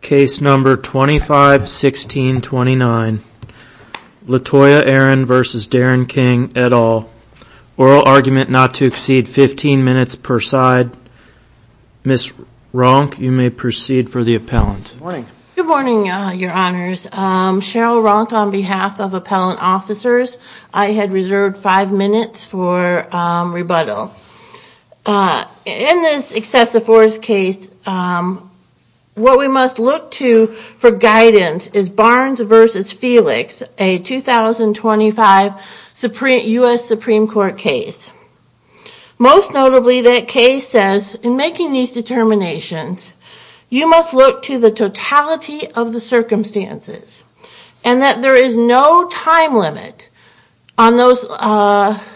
Case number 251629 Latoya Aaron v. Darren King, et al. Oral argument not to exceed 15 minutes per side. Ms. Ronk, you may proceed for the appellant. Good morning, your honors. Cheryl Ronk on behalf of appellant officers. I had reserved 5 minutes for rebuttal. In this excessive force case, what we must look to for guidance is Barnes v. Felix, a 2025 U.S. Supreme Court case. Most notably, that case says, in making these determinations, you must look to the totality of the circumstances. And that there is no time limit on those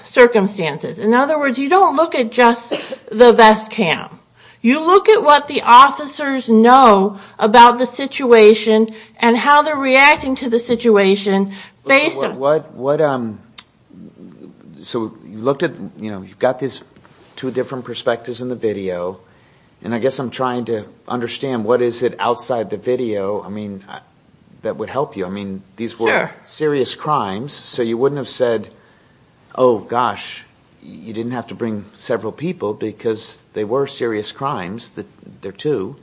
circumstances. In other words, you don't look at just the vest cam. You look at what the officers know about the situation and how they're reacting to the situation based on... So you've got these two different perspectives in the video, and I guess I'm trying to understand what is it outside the video that would help you. I mean, these were serious crimes, so you wouldn't have said, oh gosh, you didn't have to bring several people because they were serious crimes. They're two.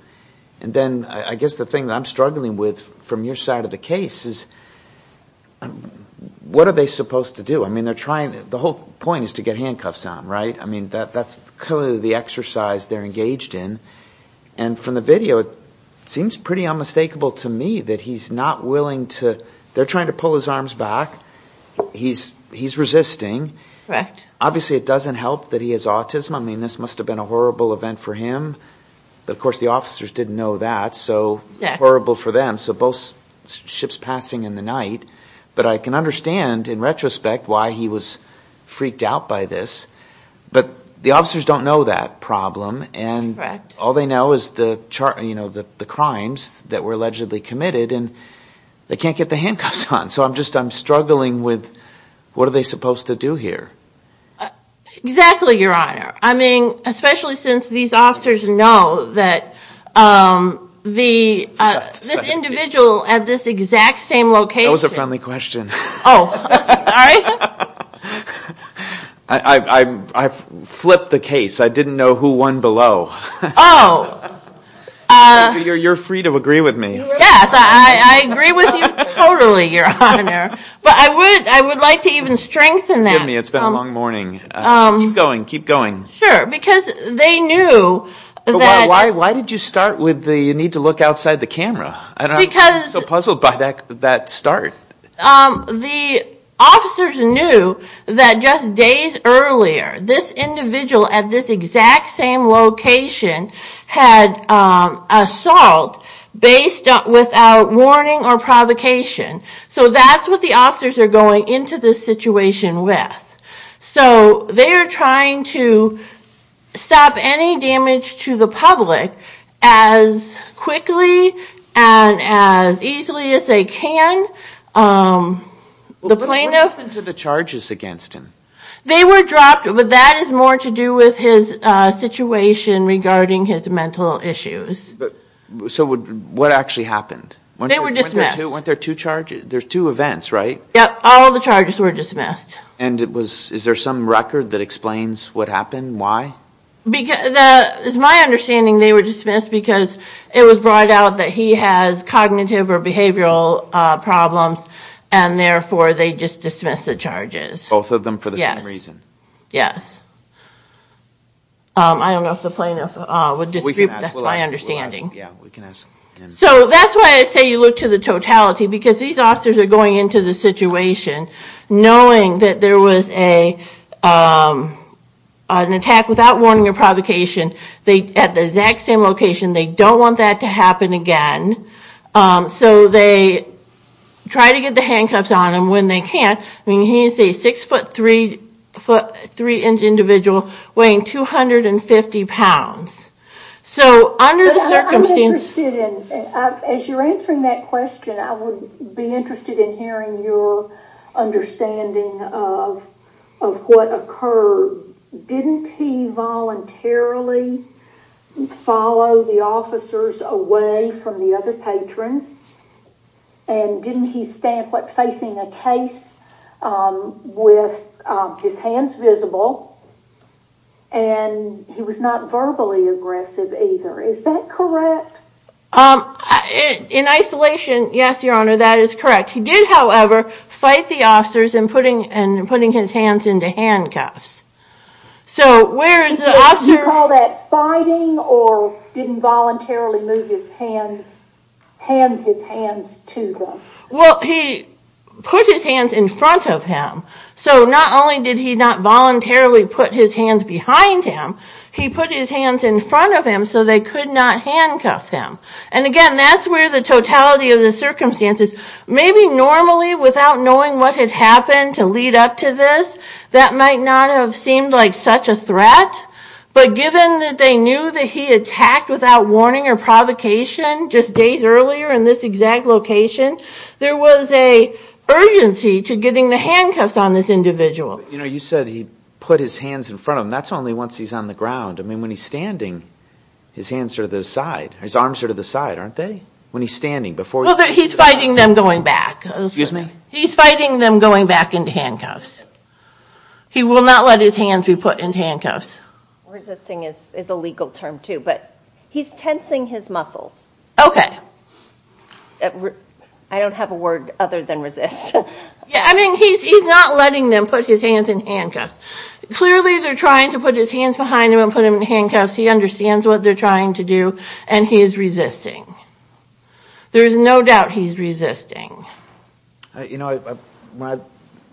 And then I guess the thing that I'm struggling with from your side of the case is what are they supposed to do? I mean, the whole point is to get handcuffs on, right? I mean, that's the exercise they're engaged in. And from the video, it seems pretty unmistakable to me that he's not willing to... they're trying to pull his arms back. He's resisting. Obviously, it doesn't help that he has autism. I mean, this must have been a horrible event for him. But of course, the officers didn't know that, so horrible for them. So both ships passing in the night. But I can understand, in retrospect, why he was freaked out by this. But the officers don't know that problem. And all they know is the crimes that were allegedly committed, and they can't get the handcuffs on. So I'm struggling with what are they supposed to do here? Exactly, Your Honor. I mean, especially since these officers know that this individual at this exact same location... That was a friendly question. I flipped the case. I didn't know who won below. You're free to agree with me. Yes, I agree with you totally, Your Honor. But I would like to even strengthen that. It's been a long morning. Keep going, keep going. Sure, because they knew that... Why did you start with the need to look outside the camera? I'm so puzzled by that start. The officers knew that just days earlier, this individual at this exact same location had assault without warning or provocation. So that's what the officers are going into this situation with. So they are trying to stop any damage to the public as quickly and as easily as they can. What happened to the charges against him? They were dropped, but that is more to do with his situation regarding his mental issues. So what actually happened? They were dismissed. Weren't there two charges? There's two events, right? Yep, all the charges were dismissed. And is there some record that explains what happened? Why? It's my understanding they were dismissed because it was brought out that he has cognitive or behavioral problems, and therefore they just dismissed the charges. Both of them for the same reason? Yes. I don't know if the plaintiff would disagree, but that's my understanding. So that's why I say you look to the totality, because these officers are going into the situation knowing that there was an attack without warning or provocation at the exact same location. They don't want that to happen again. So they try to get the handcuffs on him when they can. He's a six-foot, three-inch individual weighing 250 pounds. As you're answering that question, I would be interested in hearing your understanding of what occurred. Didn't he voluntarily follow the officers away from the other patrons? And didn't he stand facing a case with his hands visible? And he was not verbally aggressive either. Is that correct? In isolation, yes, Your Honor, that is correct. He did, however, fight the officers in putting his hands into handcuffs. Did you call that fighting or didn't voluntarily move his hands, hand his hands to them? Well, he put his hands in front of him. So not only did he not voluntarily put his hands behind him, he put his hands in front of him so they could not handcuff him. And again, that's where the totality of the circumstances, maybe normally without knowing what had happened to lead up to this, that might not have seemed like such a threat. But given that they knew that he attacked without warning or provocation just days earlier in this exact location, there was an urgency to getting the handcuffs on this individual. You know, you said he put his hands in front of him. That's only once he's on the ground. I mean, when he's standing, his hands are to the side. His arms are to the side, aren't they, when he's standing? Well, he's fighting them going back. Excuse me? He's fighting them going back into handcuffs. He will not let his hands be put in handcuffs. Resisting is a legal term, too, but he's tensing his muscles. Okay. I don't have a word other than resist. I mean, he's not letting them put his hands in handcuffs. Clearly, they're trying to put his hands behind him and put him in handcuffs. He understands what they're trying to do, and he is resisting. There's no doubt he's resisting. You know, when I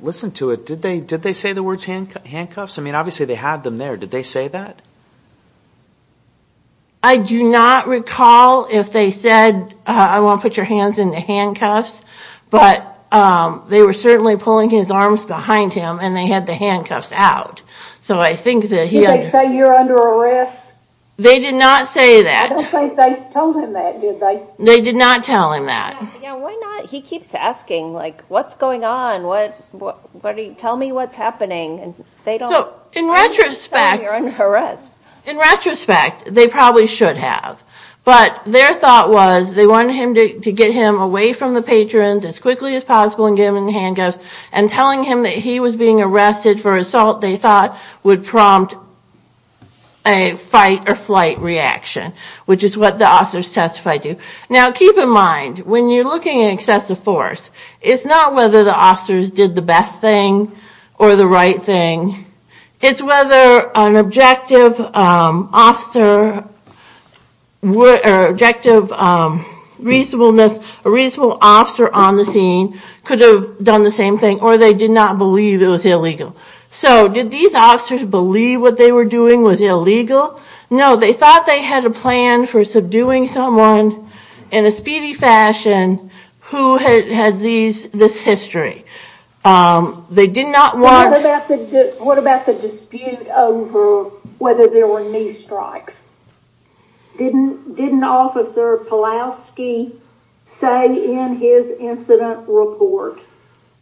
listened to it, did they say the words handcuffs? I mean, obviously, they had them there. Did they say that? I do not recall if they said, I won't put your hands in the handcuffs, but they were certainly pulling his arms behind him, and they had the handcuffs out. So I think that he had to. Did they say you're under arrest? They did not say that. I don't think they told him that, did they? They did not tell him that. Why not? He keeps asking, like, what's going on? Tell me what's happening. In retrospect, they probably should have. But their thought was they wanted him to get him away from the patrons as quickly as possible and get him in the handcuffs, and telling him that he was being arrested for assault, they thought, would prompt a fight-or-flight reaction, which is what the officers testified to. Now, keep in mind, when you're looking at excessive force, it's not whether the officers did the best thing or the right thing. It's whether an objective officer or objective reasonableness, a reasonable officer on the scene could have done the same thing, or they did not believe it was illegal. So did these officers believe what they were doing was illegal? No, they thought they had a plan for subduing someone in a speedy fashion who has this history. What about the dispute over whether there were knee strikes? Didn't Officer Palowski say in his incident report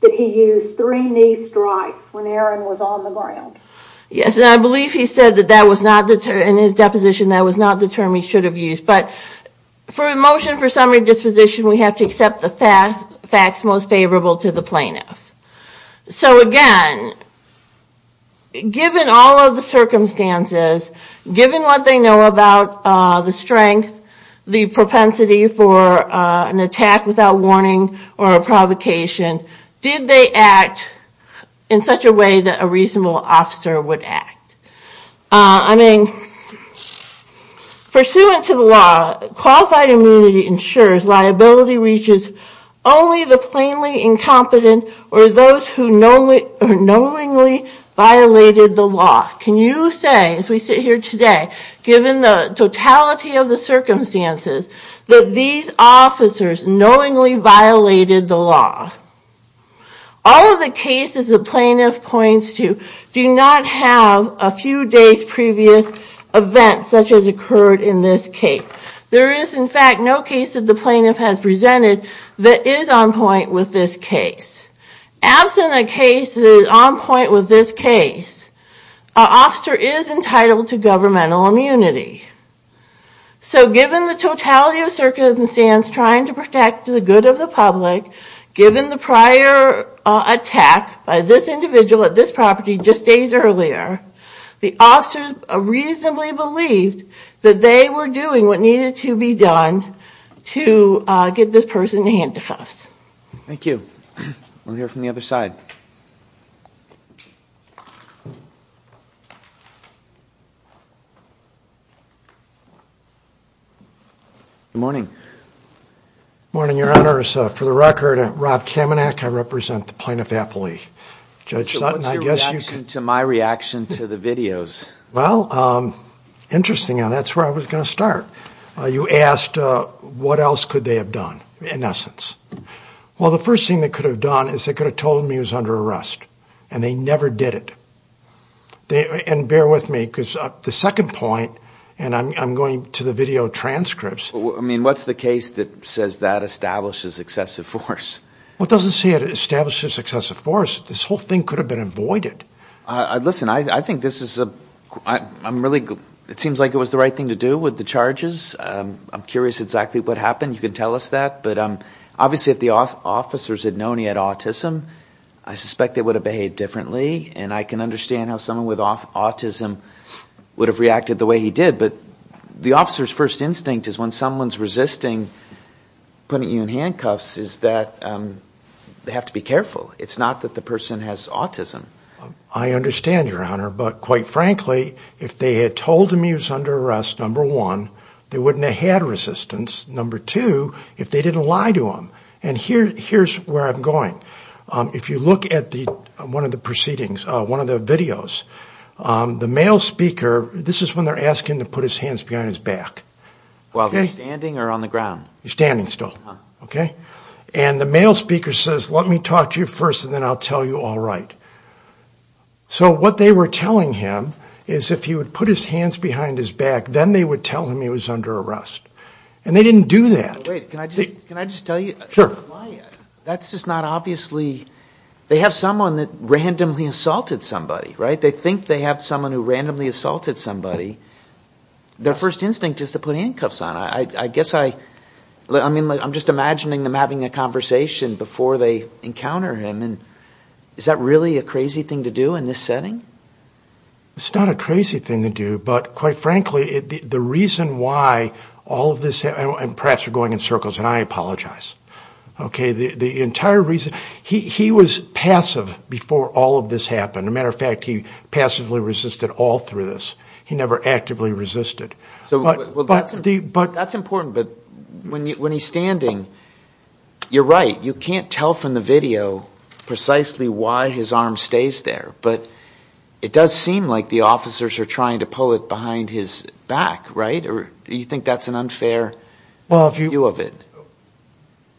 that he used three knee strikes when Aaron was on the ground? Yes, and I believe he said in his deposition that was not the term he should have used. But for a motion for summary disposition, we have to accept the facts most favorable to the plaintiff. So again, given all of the circumstances, given what they know about the strength, the propensity for an attack without warning or a provocation, did they act in such a way that a reasonable officer would act? I mean, pursuant to the law, qualified immunity ensures liability reaches only the plainly incompetent or those who knowingly violated the law. Can you say, as we sit here today, given the totality of the circumstances, that these officers knowingly violated the law? All of the cases the plaintiff points to do not have a few days' previous events such as occurred in this case. There is, in fact, no case that the plaintiff has presented that is on point with this case. Absent a case that is on point with this case, an officer is entitled to governmental immunity. So given the totality of circumstances trying to protect the good of the public, given the prior attack by this individual at this property just days earlier, the officers reasonably believed that they were doing what needed to be done to get this person to hand it to us. Thank you. We'll hear from the other side. Good morning. Good morning, Your Honors. For the record, I'm Rob Kamenak. I represent the plaintiff aptly. So what's your reaction to my reaction to the videos? Well, interesting. That's where I was going to start. You asked what else could they have done, in essence. Well, the first thing they could have done is they could have told me he was under arrest. And they never did it. And bear with me, because the second point, and I'm going to the video transcripts. I mean, what's the case that says that establishes excessive force? Well, it doesn't say it establishes excessive force. This whole thing could have been avoided. Listen, I think this is a – I'm really – it seems like it was the right thing to do with the charges. I'm curious exactly what happened. You can tell us that. But obviously if the officers had known he had autism, I suspect they would have behaved differently. And I can understand how someone with autism would have reacted the way he did. But the officer's first instinct is when someone's resisting putting you in handcuffs is that they have to be careful. It's not that the person has autism. I understand, Your Honor. But quite frankly, if they had told him he was under arrest, number one, they wouldn't have had resistance. Number two, if they didn't lie to him. And here's where I'm going. If you look at one of the proceedings, one of the videos, the male speaker – this is when they're asking to put his hands behind his back. While he's standing or on the ground? He's standing still. And the male speaker says, let me talk to you first and then I'll tell you all right. So what they were telling him is if he would put his hands behind his back, then they would tell him he was under arrest. And they didn't do that. Wait, can I just tell you? Sure. That's just not obviously – they have someone that randomly assaulted somebody, right? If they think they have someone who randomly assaulted somebody, their first instinct is to put handcuffs on. I guess I – I mean, I'm just imagining them having a conversation before they encounter him. Is that really a crazy thing to do in this setting? It's not a crazy thing to do, but quite frankly, the reason why all of this – and perhaps we're going in circles, and I apologize. Okay, the entire reason – he was passive before all of this happened. As a matter of fact, he passively resisted all through this. He never actively resisted. That's important, but when he's standing, you're right, you can't tell from the video precisely why his arm stays there. But it does seem like the officers are trying to pull it behind his back, right? Or do you think that's an unfair view of it?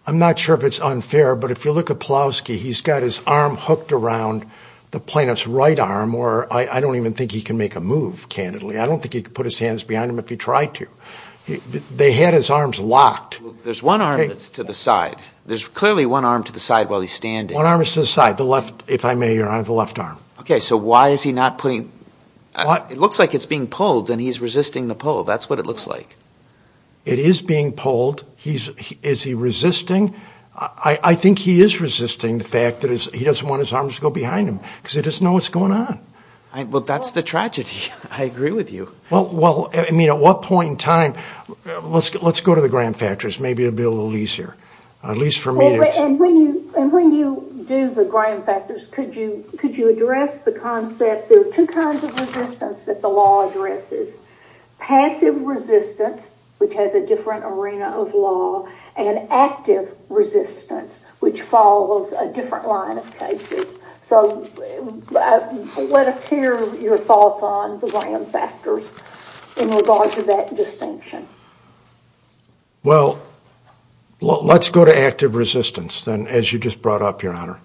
I'm not sure if it's unfair, but if you look at Pawlowski, he's got his arm hooked around the plaintiff's right arm, or I don't even think he can make a move, candidly. I don't think he could put his hands behind him if he tried to. They had his arms locked. There's one arm that's to the side. There's clearly one arm to the side while he's standing. One arm is to the side. The left, if I may, Your Honor, the left arm. Okay, so why is he not putting – it looks like it's being pulled, and he's resisting the pull. That's what it looks like. It is being pulled. Is he resisting? I think he is resisting the fact that he doesn't want his arms to go behind him because he doesn't know what's going on. Well, that's the tragedy. I agree with you. Well, I mean, at what point in time – let's go to the grand factors. Maybe it will be a little easier, at least for me. And when you do the grand factors, could you address the concept – there are two kinds of resistance that the law addresses. Passive resistance, which has a different arena of law, and active resistance, which follows a different line of cases. So let us hear your thoughts on the grand factors in regards to that distinction. Well, let's go to active resistance, then, as you just brought up, Your Honor.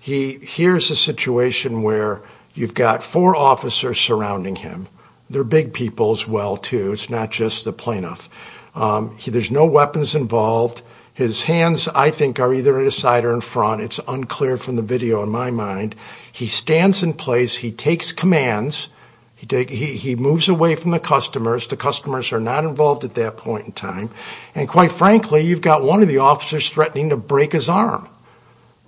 Here's a situation where you've got four officers surrounding him. They're big people as well, too. It's not just the plaintiff. There's no weapons involved. His hands, I think, are either at his side or in front. It's unclear from the video, in my mind. He stands in place. He takes commands. He moves away from the customers. The customers are not involved at that point in time. And quite frankly, you've got one of the officers threatening to break his arm.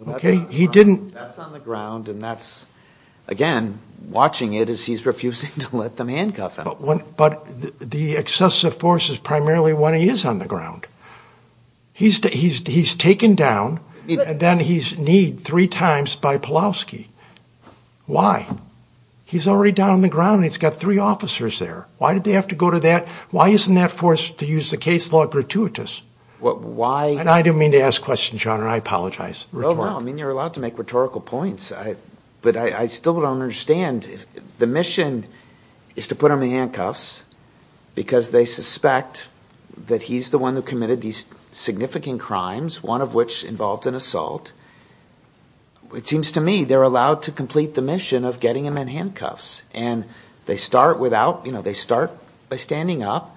That's on the ground, and that's, again, watching it as he's refusing to let them handcuff him. But the excessive force is primarily when he is on the ground. He's taken down, and then he's kneed three times by Pulaski. Why? He's already down on the ground, and he's got three officers there. Why did they have to go to that? Why isn't that force to use the case law gratuitous? And I didn't mean to ask questions, Your Honor. I apologize. No, no. I mean, you're allowed to make rhetorical points. But I still don't understand. The mission is to put him in handcuffs because they suspect that he's the one who committed these significant crimes, one of which involved an assault. It seems to me they're allowed to complete the mission of getting him in handcuffs. And they start by standing up.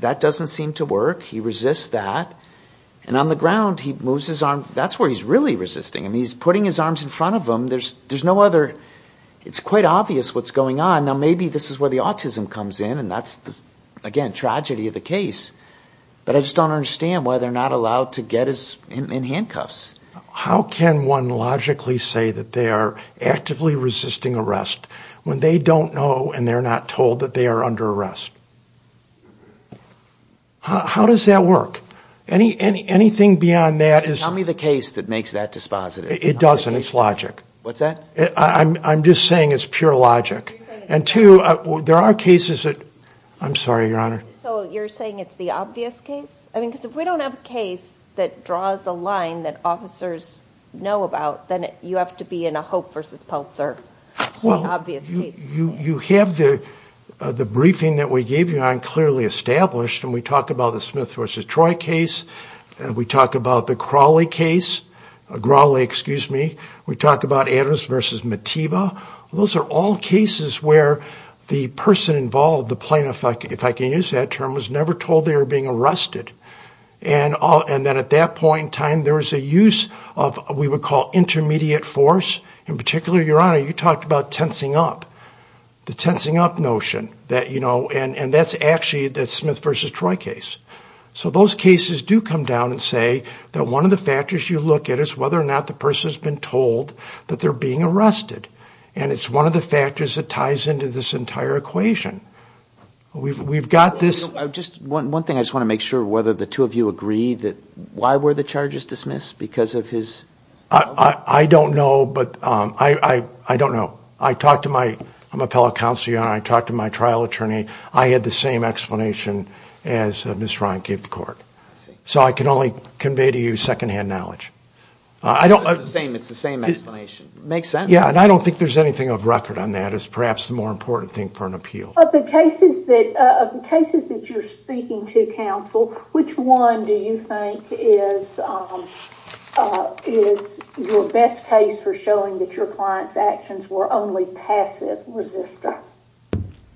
That doesn't seem to work. He resists that. And on the ground, he moves his arm. That's where he's really resisting. I mean, he's putting his arms in front of him. There's no other. It's quite obvious what's going on. Now, maybe this is where the autism comes in, and that's, again, tragedy of the case. But I just don't understand why they're not allowed to get him in handcuffs. How can one logically say that they are actively resisting arrest when they don't know and they're not told that they are under arrest? How does that work? Anything beyond that is – Tell me the case that makes that dispositive. It doesn't. It's logic. What's that? I'm just saying it's pure logic. And two, there are cases that – I'm sorry, Your Honor. So you're saying it's the obvious case? I mean, because if we don't have a case that draws a line that officers know about, then you have to be in a Hope v. Peltzer, the obvious case. Well, you have the briefing that we gave you on clearly established, and we talk about the Smith v. Troy case. We talk about the Crawley case – Crawley, excuse me. We talk about Adams v. Matiba. Those are all cases where the person involved, the plaintiff, if I can use that term, was never told they were being arrested. And then at that point in time, there was a use of what we would call intermediate force. In particular, Your Honor, you talked about tensing up, the tensing up notion. And that's actually the Smith v. Troy case. So those cases do come down and say that one of the factors you look at is whether or not the person has been told that they're being arrested, and it's one of the factors that ties into this entire equation. We've got this – One thing, I just want to make sure whether the two of you agree that – why were the charges dismissed? Because of his – I don't know, but I don't know. I talked to my – I'm a fellow counselor, Your Honor. I talked to my trial attorney. I had the same explanation as Ms. Ryan gave the court. So I can only convey to you secondhand knowledge. It's the same explanation. Makes sense. Yeah, and I don't think there's anything of record on that. It's perhaps the more important thing for an appeal. Of the cases that you're speaking to, counsel, which one do you think is your best case for showing that your client's actions were only passive resistance?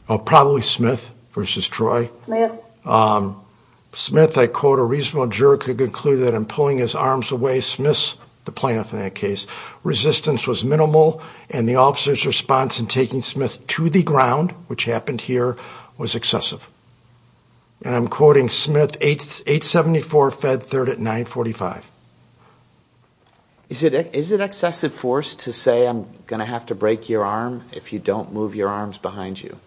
Probably Smith v. Troy. Smith, I quote, a reasonable juror could conclude that in pulling his arms away, dismiss the plaintiff in that case, resistance was minimal, and the officer's response in taking Smith to the ground, which happened here, was excessive. And I'm quoting Smith, 874 Fed 3rd at 945. Is it excessive force to say I'm going to have to break your arm if you don't move your arms behind you?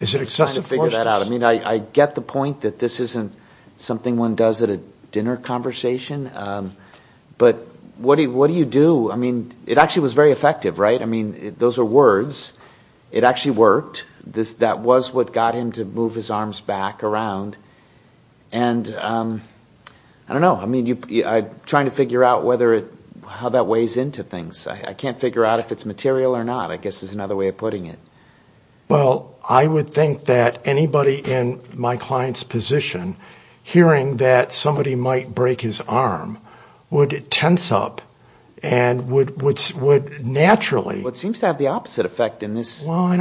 Is it excessive force? I'm trying to figure that out. I get the point that this isn't something one does at a dinner conversation, but what do you do? It actually was very effective, right? Those are words. It actually worked. That was what got him to move his arms back around. I don't know. I'm trying to figure out how that weighs into things. I can't figure out if it's material or not, I guess is another way of putting it. Well, I would think that anybody in my client's position hearing that somebody might break his arm would tense up, and would naturally... Well, it seems to have the opposite effect in this. No? I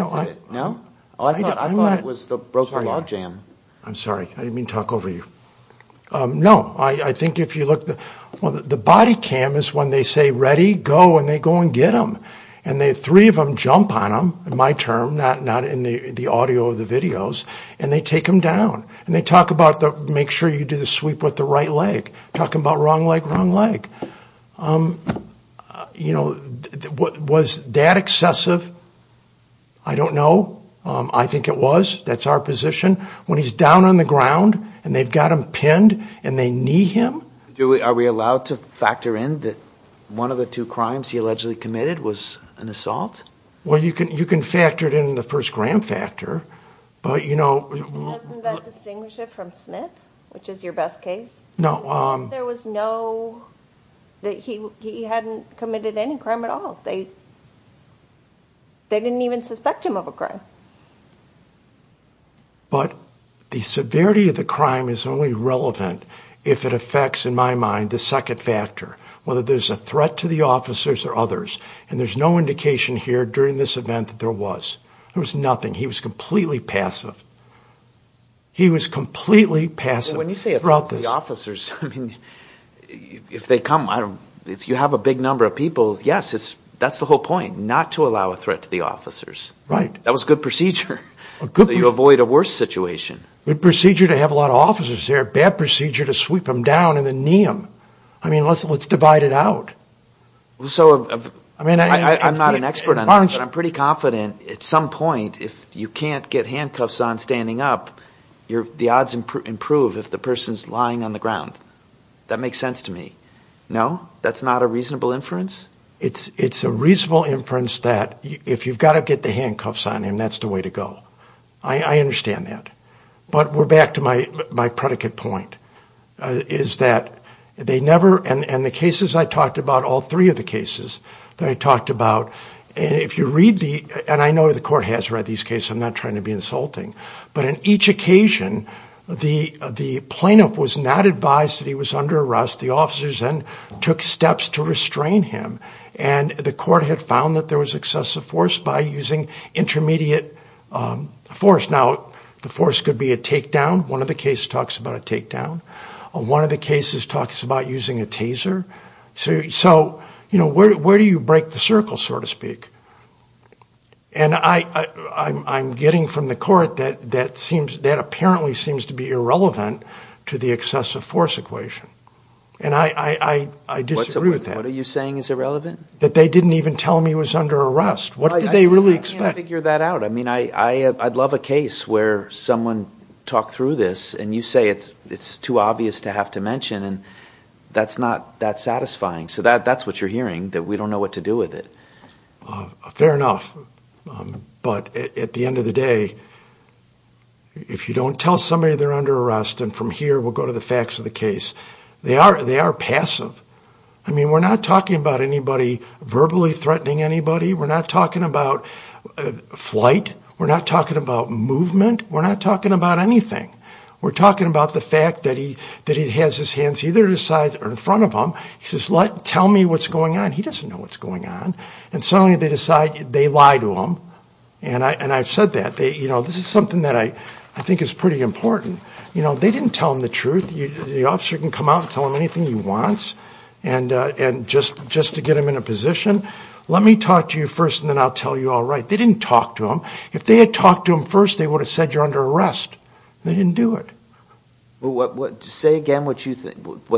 thought it was the broken log jam. I'm sorry. I didn't mean to talk over you. No, I think if you look, the body cam is when they say, ready, go, and they go and get him. Three of them jump on him, in my term, not in the audio or the videos, and they take him down. They talk about, make sure you do the sweep with the right leg. Talking about wrong leg, wrong leg. Was that excessive? I don't know. I think it was. That's our position. When he's down on the ground and they've got him pinned and they knee him... Are we allowed to factor in that one of the two crimes he allegedly committed was an assault? Well, you can factor it in the first gram factor. Doesn't that distinguish it from Smith, which is your best case? No. There was no, he hadn't committed any crime at all. They didn't even suspect him of a crime. But the severity of the crime is only relevant if it affects, in my mind, the second factor, whether there's a threat to the officers or others. And there's no indication here during this event that there was. There was nothing. He was completely passive. He was completely passive. When you say a threat to the officers, if they come, if you have a big number of people, yes, that's the whole point, not to allow a threat to the officers. Right. That was good procedure. Good procedure. So you avoid a worse situation. Good procedure to have a lot of officers there. Bad procedure to sweep them down and then knee them. I mean, let's divide it out. So I'm not an expert on this, but I'm pretty confident at some point if you can't get handcuffs on standing up, the odds improve if the person's lying on the ground. That makes sense to me. No? That's not a reasonable inference? It's a reasonable inference that if you've got to get the handcuffs on him, that's the way to go. I understand that. But we're back to my predicate point, is that they never, and the cases I talked about, all three of the cases that I talked about, and if you read the, and I know the court has read these cases, I'm not trying to be insulting, but in each occasion, the plaintiff was not advised that he was under arrest. The officers then took steps to restrain him, and the court had found that there was excessive force by using intermediate force. Now, the force could be a takedown. One of the cases talks about a takedown. One of the cases talks about using a taser. So, you know, where do you break the circle, so to speak? And I'm getting from the court that that seems, that apparently seems to be irrelevant to the excessive force equation, and I disagree with that. What are you saying is irrelevant? That they didn't even tell him he was under arrest. What did they really expect? I can't figure that out. I mean, I'd love a case where someone talked through this, and you say it's too obvious to have to mention, and that's not that satisfying. So that's what you're hearing, that we don't know what to do with it. Fair enough. But at the end of the day, if you don't tell somebody they're under arrest, and from here we'll go to the facts of the case, they are passive. I mean, we're not talking about anybody verbally threatening anybody. We're not talking about flight. We're not talking about movement. We're not talking about anything. We're talking about the fact that he has his hands either at his side or in front of him. He says, tell me what's going on. He doesn't know what's going on. And suddenly they decide they lie to him, and I've said that. You know, this is something that I think is pretty important. You know, they didn't tell him the truth. The officer can come out and tell him anything he wants, and just to get him in a position. Let me talk to you first, and then I'll tell you all right. They didn't talk to him. If they had talked to him first, they would have said you're under arrest. They didn't do it. Say again what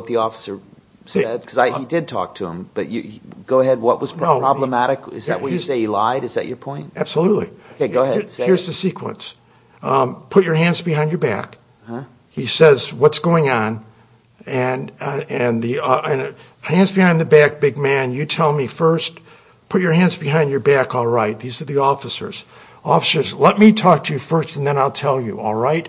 the officer said, because he did talk to him. But go ahead, what was problematic? Is that when you say he lied? Is that your point? Absolutely. Okay, go ahead. Here's the sequence. Put your hands behind your back. He says, what's going on? And hands behind the back, big man, you tell me first. Put your hands behind your back, all right. These are the officers. Officers, let me talk to you first, and then I'll tell you, all right.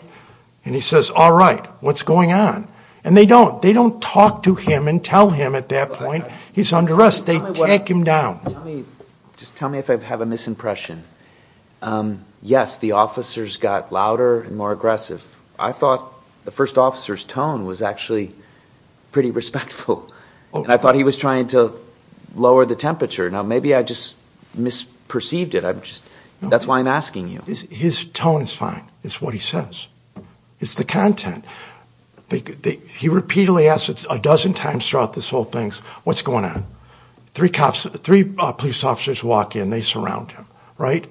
And he says, all right, what's going on? And they don't. They don't talk to him and tell him at that point. He's under arrest. They take him down. Just tell me if I have a misimpression. Yes, the officers got louder and more aggressive. I thought the first officer's tone was actually pretty respectful, and I thought he was trying to lower the temperature. Now, maybe I just misperceived it. That's why I'm asking you. His tone is fine. It's what he says. It's the content. He repeatedly asks a dozen times throughout this whole thing, what's going on? Three police officers walk in. They surround him, right?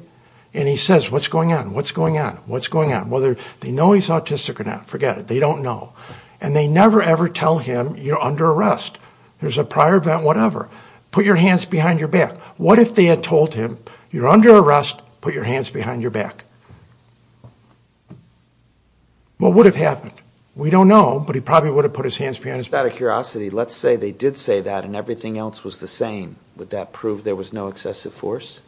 And he says, what's going on? What's going on? What's going on? Whether they know he's autistic or not, forget it. They don't know. And they never, ever tell him, you're under arrest. There's a prior event, whatever. Put your hands behind your back. What if they had told him, you're under arrest, put your hands behind your back? What would have happened? We don't know, but he probably would have put his hands behind his back. Out of curiosity, let's say they did say that and everything else was the same. Would that prove there was no excessive force?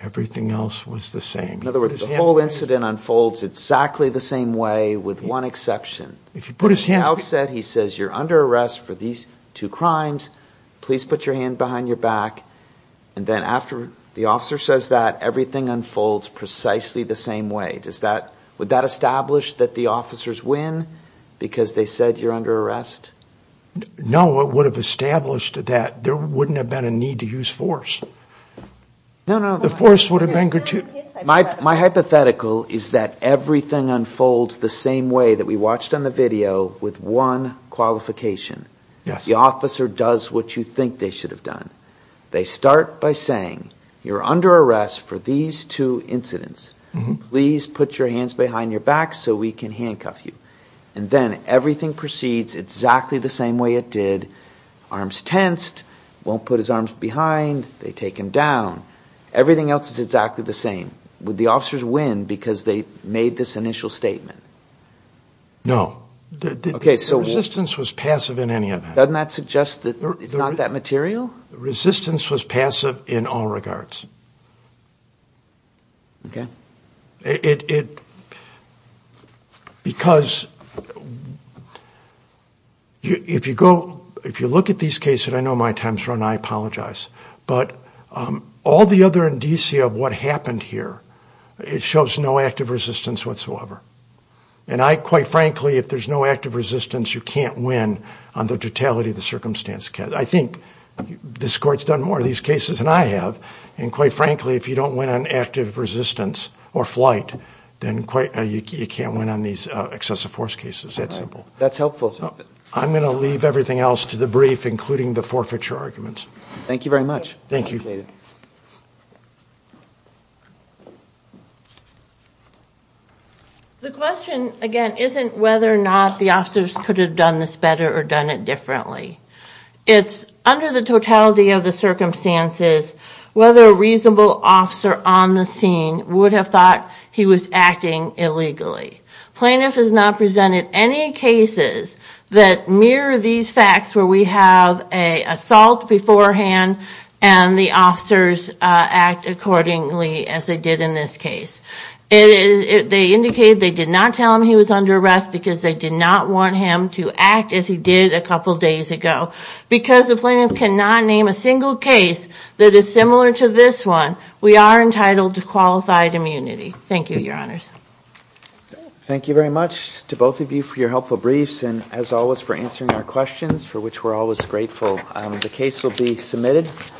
Everything else was the same. In other words, the whole incident unfolds exactly the same way with one exception. At the outset, he says, you're under arrest for these two crimes. Please put your hand behind your back. And then after the officer says that, everything unfolds precisely the same way. Would that establish that the officers win because they said you're under arrest? No, it would have established that there wouldn't have been a need to use force. The force would have been gratuitous. My hypothetical is that everything unfolds the same way that we watched on the video with one qualification. The officer does what you think they should have done. They start by saying, you're under arrest for these two incidents. Please put your hands behind your back so we can handcuff you. And then everything proceeds exactly the same way it did. Arms tensed, won't put his arms behind, they take him down. Everything else is exactly the same. Would the officers win because they made this initial statement? No. The resistance was passive in any event. Doesn't that suggest that it's not that material? The resistance was passive in all regards. Okay. It, because if you go, if you look at these cases, I know my time's run, I apologize. But all the other indicia of what happened here, it shows no active resistance whatsoever. And I, quite frankly, if there's no active resistance, you can't win on the totality of the circumstance. I think this court's done more of these cases than I have. And quite frankly, if you don't win on active resistance or flight, then quite, you can't win on these excessive force cases. That's simple. That's helpful. I'm going to leave everything else to the brief, including the forfeiture arguments. Thank you very much. Thank you. The question, again, isn't whether or not the officers could have done this better or done it differently. It's under the totality of the circumstances whether a reasonable officer on the scene would have thought he was acting illegally. Plaintiff has not presented any cases that mirror these facts where we have an assault beforehand and the officers act accordingly as they did in this case. They indicated they did not tell him he was under arrest because they did not want him to act as he did a couple days ago. Because the plaintiff cannot name a single case that is similar to this one, we are entitled to qualified immunity. Thank you, Your Honors. Thank you very much to both of you for your helpful briefs and, as always, for answering our questions, for which we're always grateful. The case will be submitted.